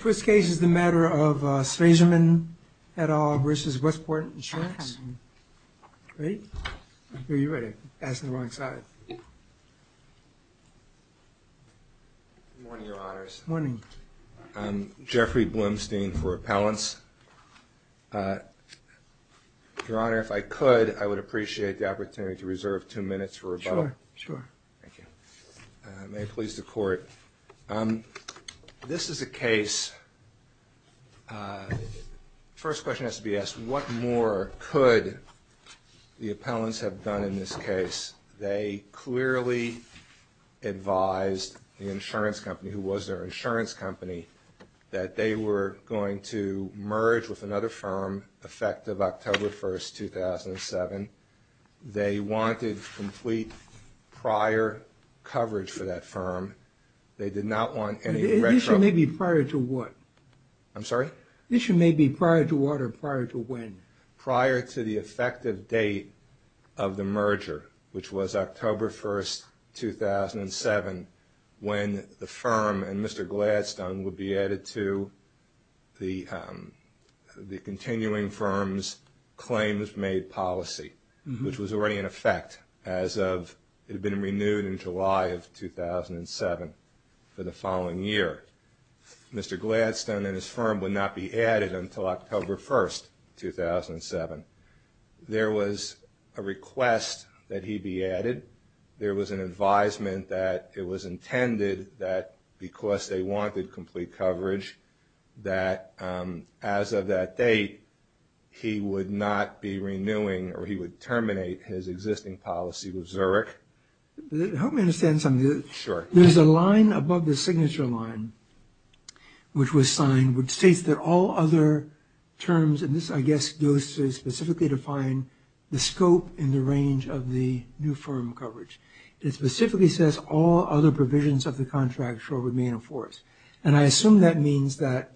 First case is the matter of Svazerman et al. versus Westport Insurance. Ready? Are you ready? Ask the wrong side. Good morning, Your Honors. Good morning. I'm Jeffrey Blumstein for Appellants. Your Honor, if I could, I would appreciate the opportunity to reserve two minutes for rebuttal. Sure, sure. Thank you. May it please the Court. This is a case, first question has to be asked, what more could the appellants have done in this case? They clearly advised the insurance company, who was their insurance company, that they were going to merge with another firm effective October 1, 2007. They wanted complete prior coverage for that firm. They did not want any retro... The issue may be prior to what? I'm sorry? The issue may be prior to what or prior to when? Prior to the effective date of the merger, which was October 1, 2007, when the firm and Mr. Gladstone would be added to the continuing firm's claims-made policy, which was already in effect as of it had been renewed in July of 2007 for the following year. Mr. Gladstone and his firm would not be added until October 1, 2007. There was a request that he be added. There was an advisement that it was intended that because they wanted complete coverage, that as of that date he would not be renewing or he would terminate his existing policy with Zurich. Help me understand something. Sure. There's a line above the signature line, which was signed, which states that all other terms, and this, I guess, goes to specifically define the scope and the range of the new firm coverage. It specifically says all other provisions of the contract shall remain in force. And I assume that means that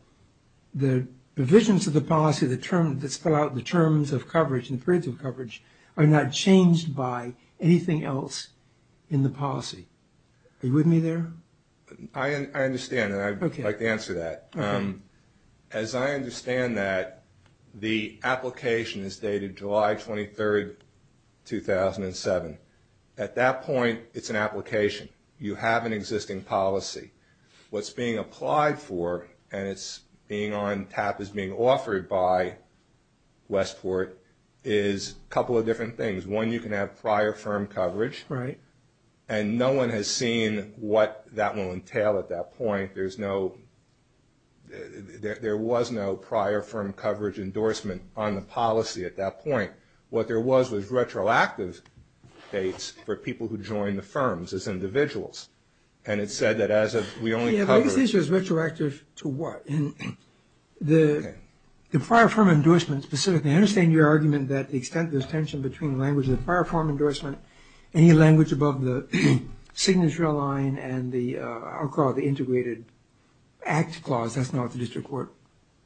the provisions of the policy, the terms that spell out the terms of coverage and periods of coverage, are not changed by anything else in the policy. Are you with me there? I understand, and I'd like to answer that. As I understand that, the application is dated July 23, 2007. At that point, it's an application. You have an existing policy. What's being applied for and it's being on tap as being offered by Westport is a couple of different things. One, you can have prior firm coverage. Right. And no one has seen what that will entail at that point. There's no – there was no prior firm coverage endorsement on the policy at that point. What there was was retroactive dates for people who joined the firms as individuals. And it said that as of – we only covered – The biggest issue is retroactive to what? The prior firm endorsement specifically. I understand your argument that the extent of this tension between language of the prior firm endorsement and any language above the signature line and the – I'll call it the integrated act clause. That's not what the district court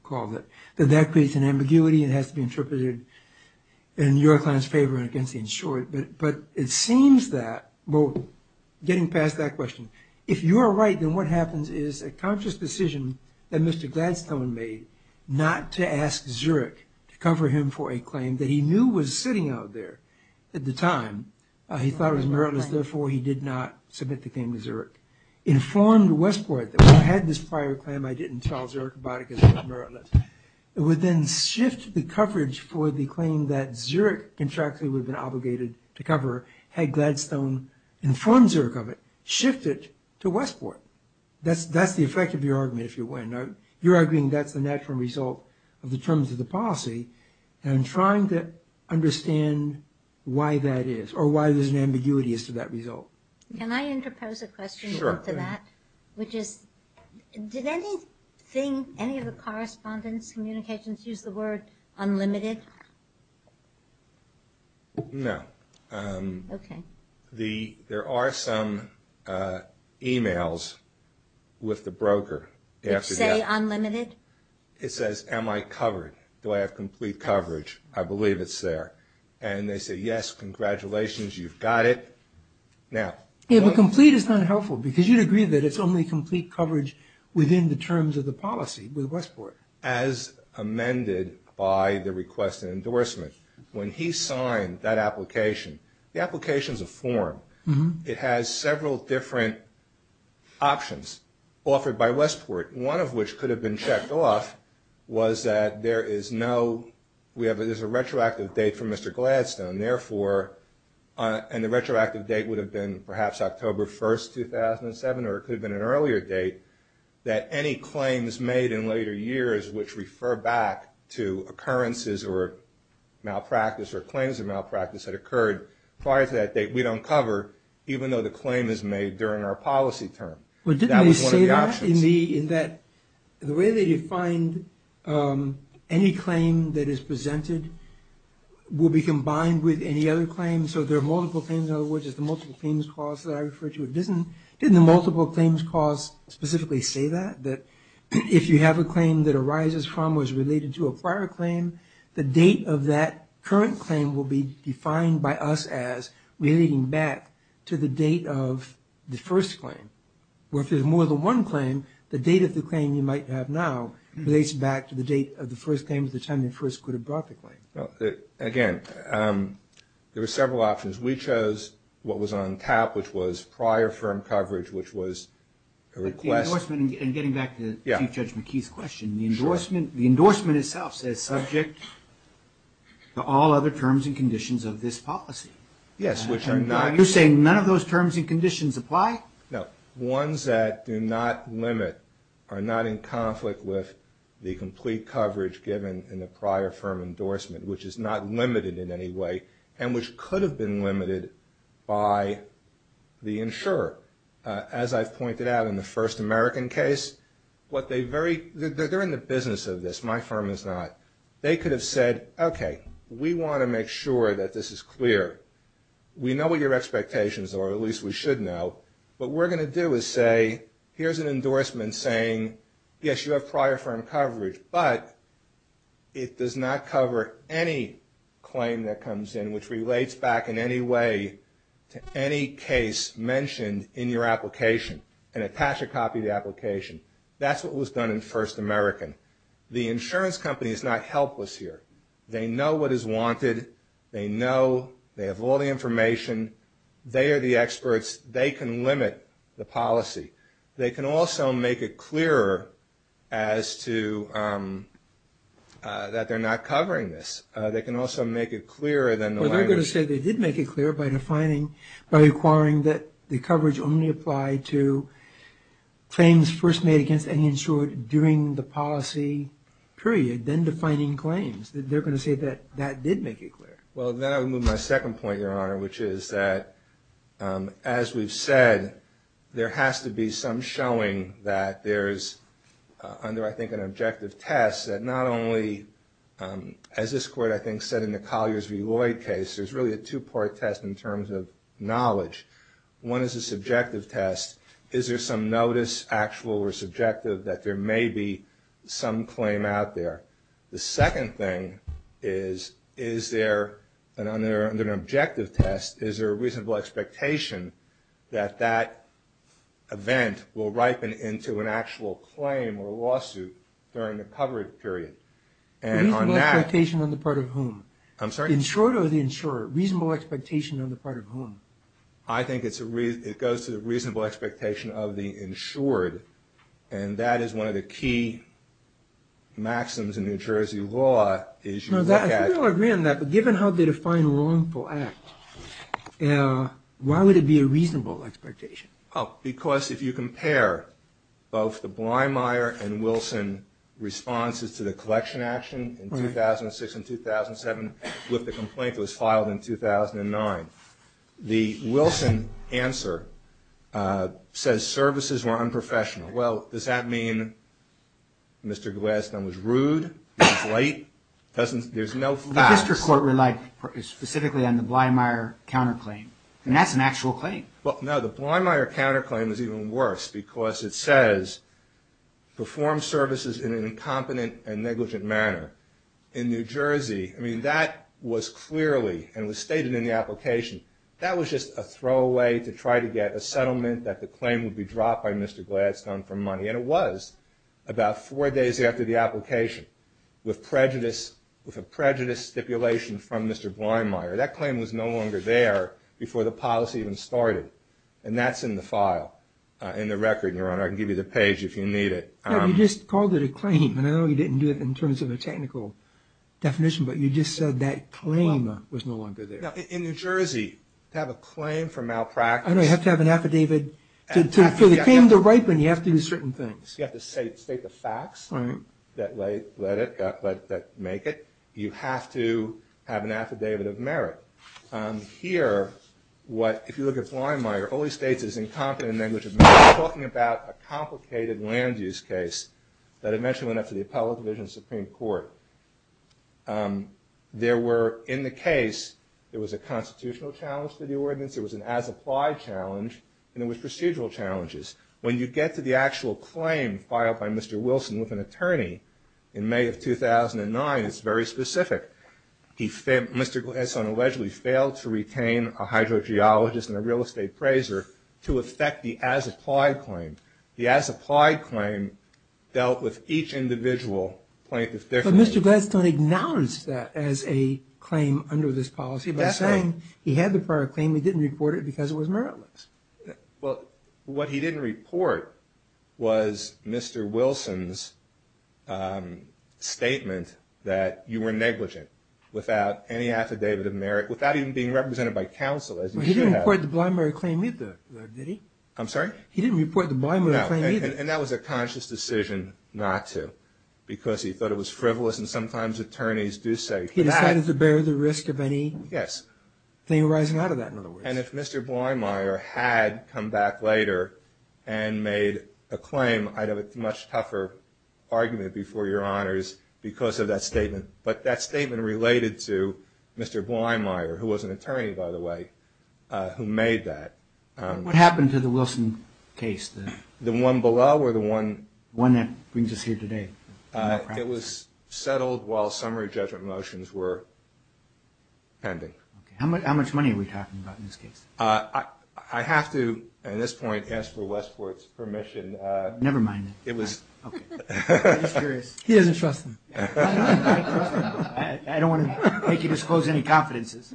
called it. That that creates an ambiguity and has to be interpreted in your client's favor and against the insured. But it seems that – getting past that question. If you are right, then what happens is a conscious decision that Mr. Gladstone made not to ask Zurich to cover him for a claim that he knew was sitting out there at the time. He thought it was meritless, therefore he did not submit the claim to Zurich. Informed Westport that, well, I had this prior claim. I didn't tell Zurich about it because it was meritless. It would then shift the coverage for the claim that Zurich contractually would have been obligated to cover. Had Gladstone informed Zurich of it, shift it to Westport. That's the effect of your argument, if you will. You're arguing that's the natural result of the terms of the policy. And I'm trying to understand why that is or why there's an ambiguity as to that result. Can I interpose a question into that? Sure. Which is, did anything – any of the correspondence, communications use the word unlimited? No. Okay. There are some e-mails with the broker after that. Which say unlimited? It says, am I covered? Do I have complete coverage? I believe it's there. And they say, yes, congratulations, you've got it. Yeah, but complete is not helpful because you'd agree that it's only complete coverage within the terms of the policy with Westport. As amended by the request and endorsement. When he signed that application, the application's a form. It has several different options offered by Westport. One of which could have been checked off was that there is no – there's a retroactive date for Mr. Gladstone. Therefore, and the retroactive date would have been perhaps October 1st, 2007, or it could have been an earlier date, that any claims made in later years which refer back to occurrences or malpractice or claims of malpractice that occurred prior to that date, we don't cover, even though the claim is made during our policy term. That was one of the options. But didn't they say that in the – in that the way they defined any claim that is presented will be combined with any other claim? So there are multiple claims. In other words, it's the multiple claims clause that I referred to. Didn't the multiple claims clause specifically say that? That if you have a claim that arises from or is related to a prior claim, the date of that current claim will be defined by us as relating back to the date of the first claim. Or if there's more than one claim, the date of the claim you might have now relates back to the date of the first claim at the time they first could have brought the claim. Again, there were several options. We chose what was on TAP, which was prior firm coverage, which was a request. But the endorsement, and getting back to Chief Judge McKee's question, the endorsement itself says subject to all other terms and conditions of this policy. Yes, which are not. You're saying none of those terms and conditions apply? No. Ones that do not limit are not in conflict with the complete coverage given in the prior firm endorsement, which is not limited in any way and which could have been limited by the insurer. As I've pointed out in the first American case, they're in the business of this. My firm is not. They could have said, okay, we want to make sure that this is clear. We know what your expectations are, or at least we should know. What we're going to do is say, here's an endorsement saying, yes, you have prior firm coverage, but it does not cover any claim that comes in, which relates back in any way to any case mentioned in your application, and attach a copy of the application. That's what was done in first American. The insurance company is not helpless here. They know what is wanted. They know they have all the information. They are the experts. They can limit the policy. They can also make it clearer as to that they're not covering this. They can also make it clearer than the language. Well, they're going to say they did make it clear by defining, by requiring that the coverage only apply to claims first made against any insured during the policy period, then defining claims. They're going to say that that did make it clear. Well, then I would move my second point, Your Honor, which is that, as we've said, there has to be some showing that there's, under I think an objective test, that not only, as this Court I think said in the Colliers v. Lloyd case, there's really a two-part test in terms of knowledge. One is a subjective test. Is there some notice, actual or subjective, that there may be some claim out there? The second thing is, is there, under an objective test, is there a reasonable expectation that that event will ripen into an actual claim or lawsuit during the coverage period? And on that – Reasonable expectation on the part of whom? I'm sorry? The insured or the insurer? Reasonable expectation on the part of whom? I think it goes to the reasonable expectation of the insured, and that is one of the key maxims in New Jersey law is you look at – No, I think we all agree on that, but given how they define wrongful act, why would it be a reasonable expectation? Oh, because if you compare both the Blymeyer and Wilson responses to the collection action in 2006 and 2007 with the complaint that was filed in 2009, the Wilson answer says services were unprofessional. Well, does that mean Mr. Gladstone was rude? He was late? There's no facts. The district court relied specifically on the Blymeyer counterclaim, and that's an actual claim. Well, no, the Blymeyer counterclaim is even worse because it says, perform services in an incompetent and negligent manner. In New Jersey, I mean, that was clearly and was stated in the application. That was just a throwaway to try to get a settlement that the claim would be dropped by Mr. Gladstone for money, and it was about four days after the application with a prejudice stipulation from Mr. Blymeyer. That claim was no longer there before the policy even started, and that's in the file, in the record, Your Honor. I can give you the page if you need it. You just called it a claim, and I know you didn't do it in terms of a technical definition, but you just said that claim was no longer there. Now, in New Jersey, to have a claim for malpractice I know, you have to have an affidavit. For the claim to ripen, you have to do certain things. You have to state the facts that make it. You have to have an affidavit of merit. Here, if you look at Blymeyer, only states his incompetent language of merit. I'm talking about a complicated land use case that eventually went up to the Appellate Division of the Supreme Court. There were, in the case, there was a constitutional challenge to the ordinance, there was an as-applied challenge, and there was procedural challenges. When you get to the actual claim filed by Mr. Wilson with an attorney in May of 2009, it's very specific. Mr. Gladstone allegedly failed to retain a hydrogeologist and a real estate appraiser to effect the as-applied claim. The as-applied claim dealt with each individual plaintiff differently. But Mr. Gladstone acknowledged that as a claim under this policy by saying he had the prior claim, he didn't report it because it was meritless. Well, what he didn't report was Mr. Wilson's statement that you were negligent without any affidavit of merit, without even being represented by counsel as you should have. He didn't report the Blymeyer claim either, did he? I'm sorry? He didn't report the Blymeyer claim either. No, and that was a conscious decision not to because he thought it was frivolous and sometimes attorneys do say that. And if Mr. Blymeyer had come back later and made a claim, I'd have a much tougher argument before your honors because of that statement. But that statement related to Mr. Blymeyer, who was an attorney, by the way, who made that. What happened to the Wilson case? The one below or the one? The one that brings us here today. It was settled while summary judgment motions were pending. How much money are we talking about in this case? I have to, at this point, ask for Westport's permission. Never mind. He doesn't trust me. I don't want to make you disclose any confidences.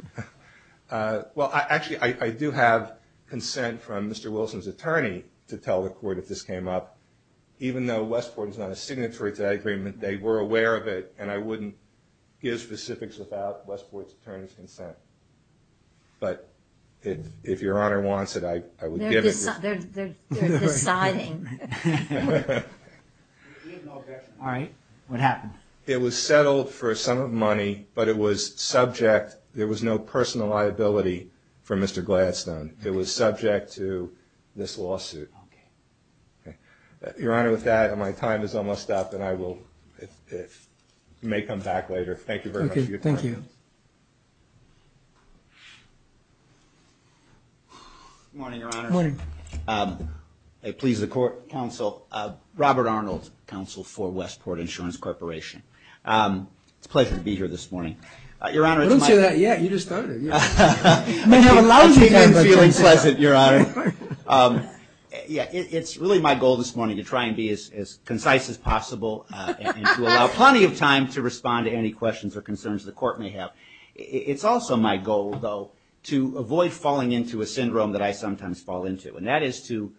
Well, actually, I do have consent from Mr. Wilson's attorney to tell the court if this came up. Even though Westport is not a signatory to that agreement, they were aware of it, and I wouldn't give specifics without Westport's attorney's consent. But if your honor wants it, I would give it. They're deciding. All right. What happened? It was settled for a sum of money, but it was subject. There was no personal liability for Mr. Gladstone. It was subject to this lawsuit. Your honor, with that, my time is almost up, and I may come back later. Thank you very much for your time. Thank you. Good morning, your honor. Good morning. I please the court counsel, Robert Arnold, counsel for Westport Insurance Corporation. It's a pleasure to be here this morning. Your honor, it's my pleasure. I didn't say that yet. You just started. I'm feeling pleasant, your honor. It's really my goal this morning to try and be as concise as possible and to allow plenty of time to respond to any questions or concerns the court may have. It's also my goal, though, to avoid falling into a syndrome that I sometimes fall into, and that is to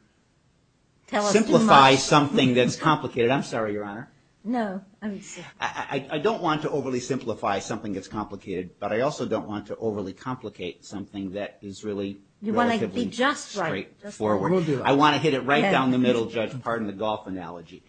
simplify something that's complicated. I'm sorry, your honor. I don't want to overly simplify something that's complicated, but I also don't want to overly complicate something that is really relatively straightforward. You want to be just right. We'll do it. I want to hit it right down the middle, Judge, pardon the golf analogy.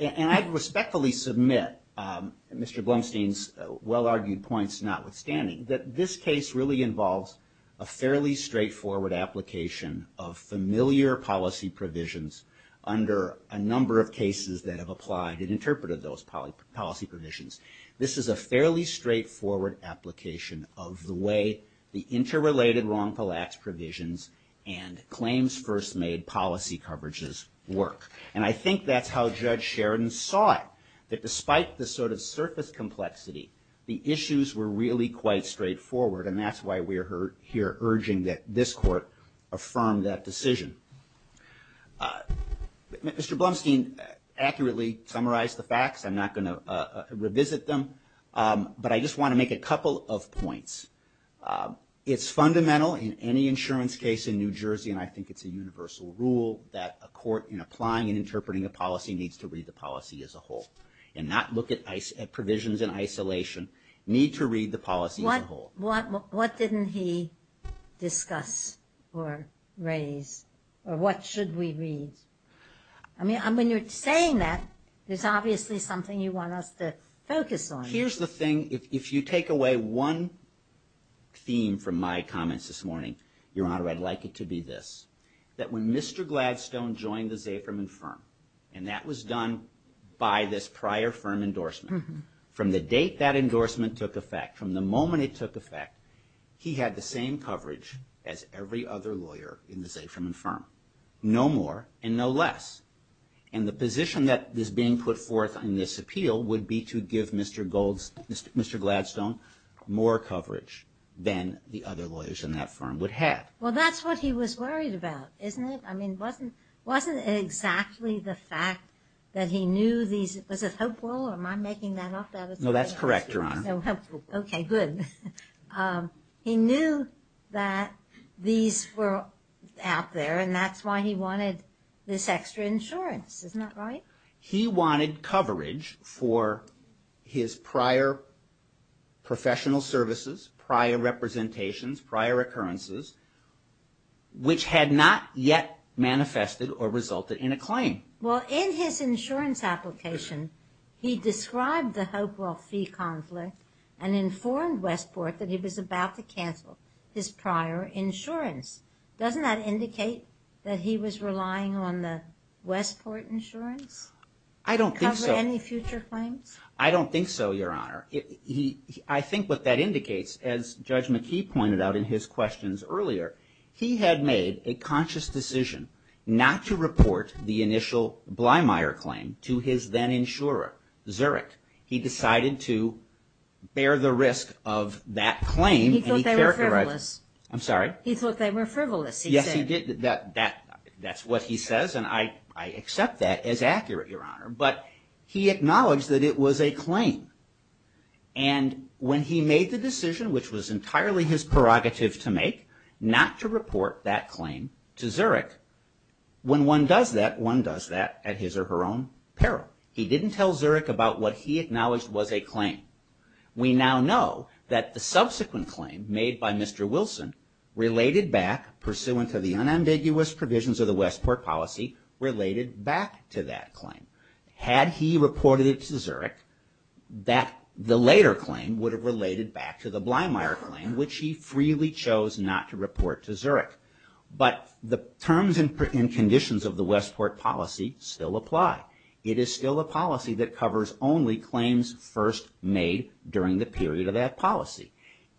And I respectfully submit Mr. Blumstein's well-argued points, notwithstanding, that this case really involves a fairly straightforward application of familiar policy provisions under a number of cases that have applied and interpreted those policy provisions. This is a fairly straightforward application of the way the interrelated wrongful acts provisions and claims first made policy coverages work. And I think that's how Judge Sheridan saw it, that despite the sort of surface complexity, the issues were really quite straightforward, and that's why we're here urging that this court affirm that decision. Mr. Blumstein accurately summarized the facts. I'm not going to revisit them, but I just want to make a couple of points. It's fundamental in any insurance case in New Jersey, and I think it's a universal rule, that a court in applying and interpreting a policy needs to read the policy as a whole and not look at provisions in isolation, need to read the policy as a whole. What didn't he discuss or raise, or what should we read? I mean, when you're saying that, there's obviously something you want us to focus on. Here's the thing. If you take away one theme from my comments this morning, Your Honor, I'd like it to be this, that when Mr. Gladstone joined the Zafirman firm, and that was done by this prior firm endorsement, from the date that endorsement took effect, from the moment it took effect, he had the same coverage as every other lawyer in the Zafirman firm. No more and no less. And the position that is being put forth in this appeal would be to give Mr. Gladstone more coverage than the other lawyers in that firm would have. Well, that's what he was worried about, isn't it? I mean, wasn't it exactly the fact that he knew these – was it hopeful, or am I making that up? No, that's correct, Your Honor. Okay, good. He knew that these were out there, and that's why he wanted this extra insurance. Isn't that right? He wanted coverage for his prior professional services, prior representations, prior occurrences, which had not yet manifested or resulted in a claim. Well, in his insurance application, he described the Hopewell fee conflict and informed Westport that he was about to cancel his prior insurance. Doesn't that indicate that he was relying on the Westport insurance? I don't think so. To cover any future claims? I don't think so, Your Honor. I think what that indicates, as Judge McKee pointed out in his questions earlier, he had made a conscious decision not to report the initial Blymeyer claim to his then-insurer, Zurich. He decided to bear the risk of that claim. He thought they were frivolous. I'm sorry? He thought they were frivolous, he said. Yes, he did. That's what he says, and I accept that as accurate, Your Honor. But he acknowledged that it was a claim. And when he made the decision, which was entirely his prerogative to make, not to report that claim to Zurich, when one does that, one does that at his or her own peril. He didn't tell Zurich about what he acknowledged was a claim. We now know that the subsequent claim made by Mr. Wilson related back, pursuant to the unambiguous provisions of the Westport policy, related back to that claim. Had he reported it to Zurich, the later claim would have related back to the Blymeyer claim, which he freely chose not to report to Zurich. But the terms and conditions of the Westport policy still apply. It is still a policy that covers only claims first made during the period of that policy.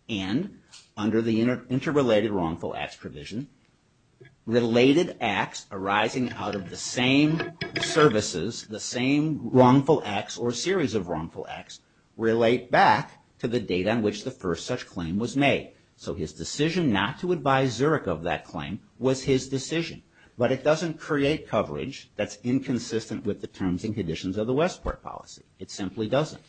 And under the interrelated wrongful acts provision, related acts arising out of the same services, the same wrongful acts or series of wrongful acts, relate back to the date on which the first such claim was made. So his decision not to advise Zurich of that claim was his decision. But it doesn't create coverage that's inconsistent with the terms and conditions of the Westport policy. It simply doesn't.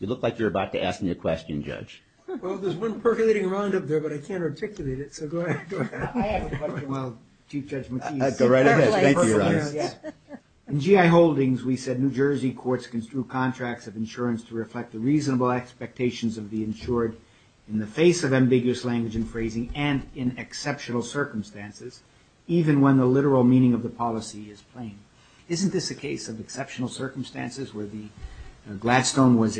You look like you're about to ask me a question, Judge. Well, there's one percolating around up there, but I can't articulate it. So go ahead. I have a question. Well, Chief Judge McKee. Go right ahead. Thank you, Your Honor. In GI Holdings, we said New Jersey courts construe contracts of insurance to reflect the reasonable expectations of the insured in the face of ambiguous language and phrasing and in exceptional circumstances, even when the literal meaning of the policy is plain. Isn't this a case of exceptional circumstances where Gladstone was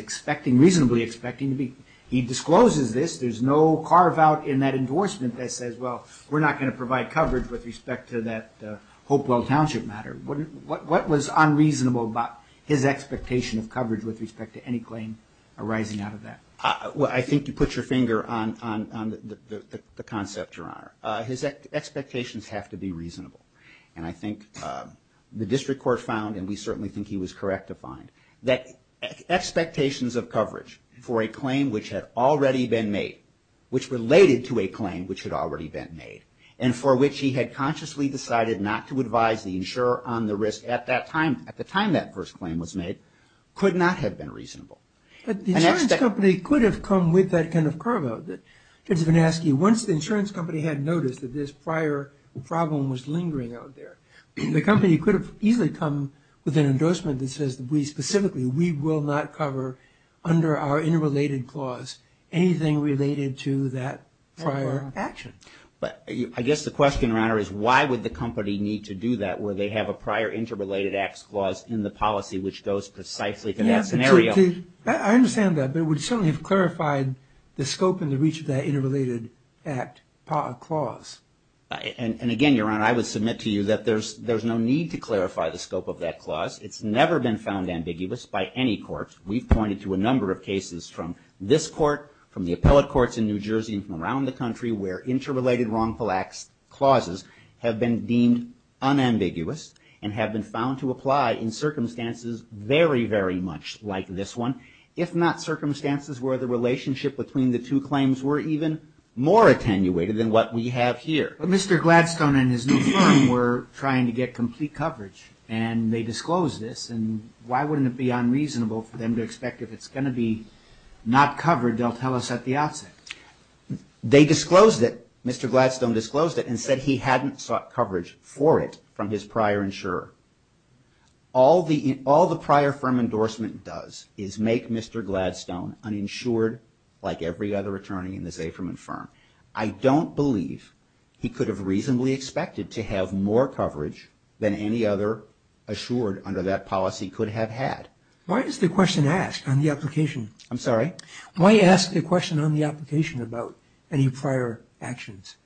reasonably expecting to be? He discloses this. There's no carve-out in that endorsement that says, well, we're not going to provide coverage with respect to that Hopewell Township matter. What was unreasonable about his expectation of coverage with respect to any claim arising out of that? Well, I think you put your finger on the concept, Your Honor. His expectations have to be reasonable. And I think the district court found, and we certainly think he was correct to find, that expectations of coverage for a claim which had already been made, which related to a claim which had already been made, and for which he had consciously decided not to advise the insurer on the risk at that time, at the time that first claim was made, could not have been reasonable. But the insurance company could have come with that kind of carve-out. Once the insurance company had noticed that this prior problem was lingering out there, the company could have easily come with an endorsement that says we specifically, we will not cover under our interrelated clause anything related to that prior action. I guess the question, Your Honor, is why would the company need to do that where they have a prior interrelated acts clause in the policy which goes precisely to that scenario? I understand that. But it would certainly have clarified the scope and the reach of that interrelated act clause. And again, Your Honor, I would submit to you that there's no need to clarify the scope of that clause. It's never been found ambiguous by any court. We've pointed to a number of cases from this court, from the appellate courts in New Jersey, and from around the country where interrelated wrongful acts clauses have been deemed unambiguous and have been found to apply in circumstances very, very much like this one. If not, circumstances where the relationship between the two claims were even more attenuated than what we have here. But Mr. Gladstone and his new firm were trying to get complete coverage, and they disclosed this. And why wouldn't it be unreasonable for them to expect if it's going to be not covered, they'll tell us at the outset? They disclosed it. Mr. Gladstone disclosed it and said he hadn't sought coverage for it from his prior insurer. All the prior firm endorsement does is make Mr. Gladstone uninsured like every other attorney in the Zafirman firm. I don't believe he could have reasonably expected to have more coverage than any other assured under that policy could have had. Why is the question asked on the application? I'm sorry? Why are you asking a question on the application about any prior actions?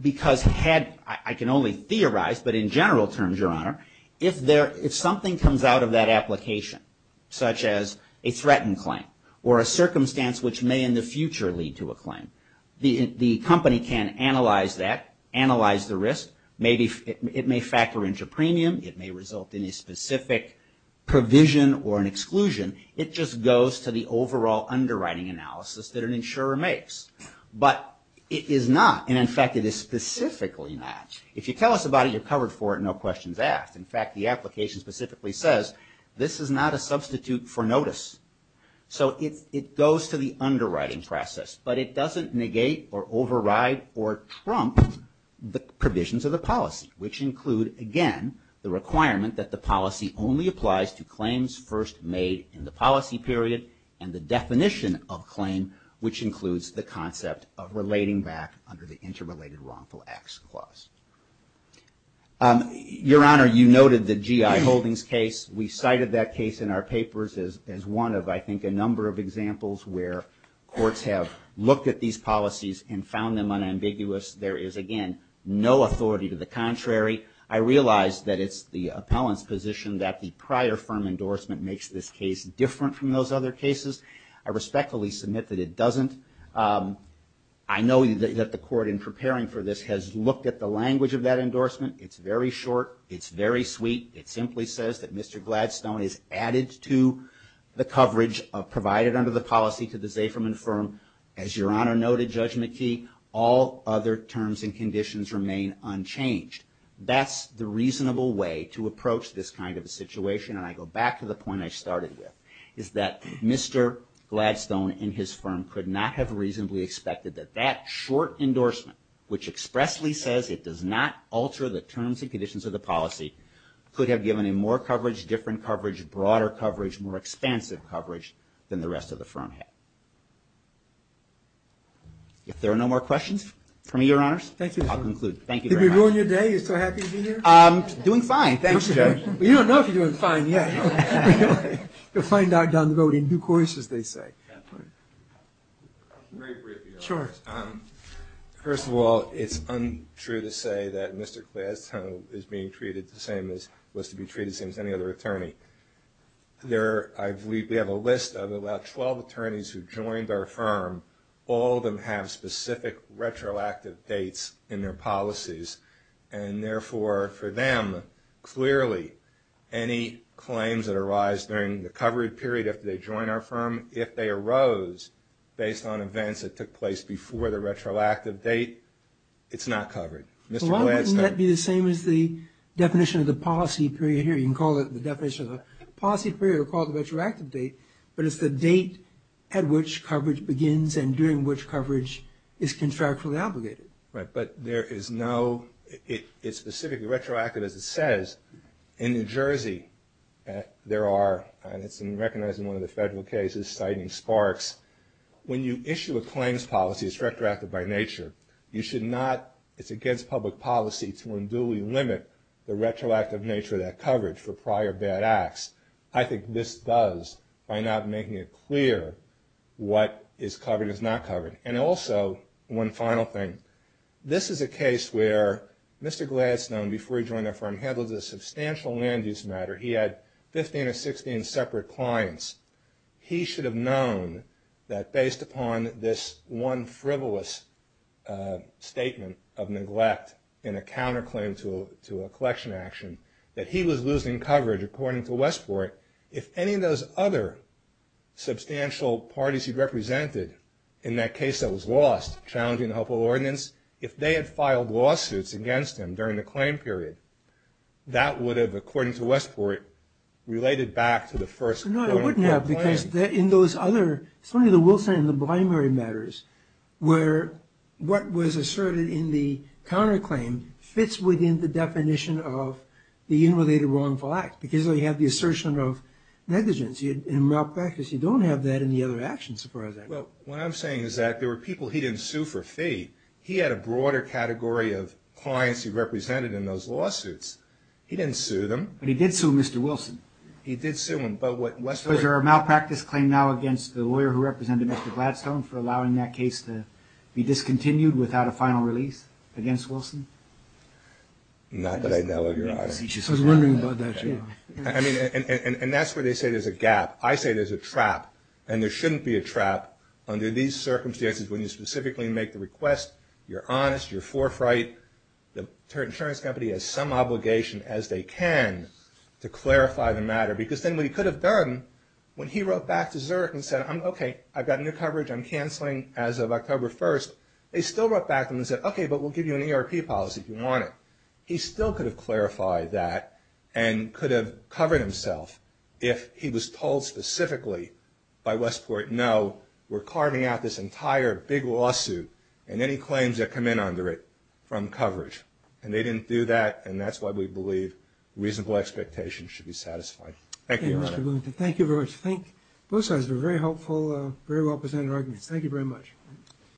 Because I can only theorize, but in general terms, Your Honor, if something comes out of that application, such as a threatened claim or a circumstance which may in the future lead to a claim, the company can analyze that, analyze the risk. It may factor into premium. It may result in a specific provision or an exclusion. It just goes to the overall underwriting analysis that an insurer makes. But it is not, and in fact, it is specifically not. If you tell us about it, you're covered for it, no questions asked. In fact, the application specifically says this is not a substitute for notice. So it goes to the underwriting process, but it doesn't negate or override or trump the provisions of the policy, which include, again, the requirement that the policy only applies to claims first made in the policy period and the definition of claim, which includes the concept of relating back under the interrelated wrongful acts clause. Your Honor, you noted the GI Holdings case. We cited that case in our papers as one of, I think, a number of examples where courts have looked at these policies and found them unambiguous. There is, again, no authority to the contrary. I realize that it's the appellant's position that the prior firm endorsement makes this case different from those other cases. I respectfully submit that it doesn't. I know that the court, in preparing for this, has looked at the language of that endorsement. It's very short. It's very sweet. It simply says that Mr. Gladstone is added to the coverage provided under the policy to the Zafirman firm. As Your Honor noted, Judge McKee, all other terms and conditions remain unchanged. That's the reasonable way to approach this kind of a situation. And I go back to the point I started with, is that Mr. Gladstone and his firm could not have reasonably expected that that short endorsement, which expressly says it does not alter the terms and conditions of the policy, could have given him more coverage, different coverage, broader coverage, more expansive coverage than the rest of the firm had. If there are no more questions for me, Your Honors, I'll conclude. Thank you very much. Did we ruin your day? You're so happy to be here? I'm doing fine. Thanks, Judge. You don't know if you're doing fine yet. You'll find out down the road in due course, as they say. Very briefly, Your Honors. Sure. First of all, it's untrue to say that Mr. Gladstone is being treated the same as was to be treated the same as any other attorney. I believe we have a list of about 12 attorneys who joined our firm. All of them have specific retroactive dates in their policies, and therefore, for them, clearly any claims that arise during the coverage period after they join our firm, if they arose based on events that took place before the retroactive date, it's not covered. Why wouldn't that be the same as the definition of the policy period here? We can call it the definition of the policy period or call it the retroactive date, but it's the date at which coverage begins and during which coverage is contractually obligated. Right. But there is no – it's specifically retroactive, as it says. In New Jersey, there are – and it's in recognizing one of the federal cases, citing Sparks – when you issue a claims policy, it's retroactive by nature. You should not – it's against public policy to unduly limit the retroactive nature of that coverage for prior bad acts. I think this does by not making it clear what is covered and is not covered. And also, one final thing, this is a case where Mr. Gladstone, before he joined our firm, handled a substantial land use matter. He had 15 or 16 separate clients. He should have known that based upon this one frivolous statement of neglect in a counterclaim to a collection action, that he was losing coverage, according to Westport. If any of those other substantial parties he represented in that case that was lost, challenging the Hopewell Ordinance, if they had filed lawsuits against him during the claim period, that would have, according to Westport, related back to the first claim period. No, it wouldn't have, because in those other – certainly the Wilson and the Blimery matters, where what was asserted in the counterclaim fits within the definition of the unrelated wrongful act, because you have the assertion of negligence in malpractice. You don't have that in the other actions as far as I know. Well, what I'm saying is that there were people he didn't sue for fee. He had a broader category of clients he represented in those lawsuits. He didn't sue them. But he did sue Mr. Wilson. He did sue him. But what Westport – Was there a malpractice claim now against the lawyer who represented Mr. Gladstone for allowing that case to be discontinued without a final release against Wilson? Not that I know of, Your Honor. I was wondering about that, too. I mean, and that's where they say there's a gap. I say there's a trap, and there shouldn't be a trap under these circumstances when you specifically make the request. You're honest. You're forefright. The insurance company has some obligation, as they can, to clarify the matter, because then what he could have done when he wrote back to Zurich and said, okay, I've got new coverage. I'm canceling as of October 1st. They still wrote back to him and said, okay, but we'll give you an ERP policy if you want it. He still could have clarified that and could have covered himself if he was told specifically by Westport, no, we're carving out this entire big lawsuit and any claims that come in under it from coverage. And they didn't do that, and that's why we believe reasonable expectations should be satisfied. Thank you, Your Honor. Thank you very much. Both sides were very helpful, very well-presented arguments. Thank you very much.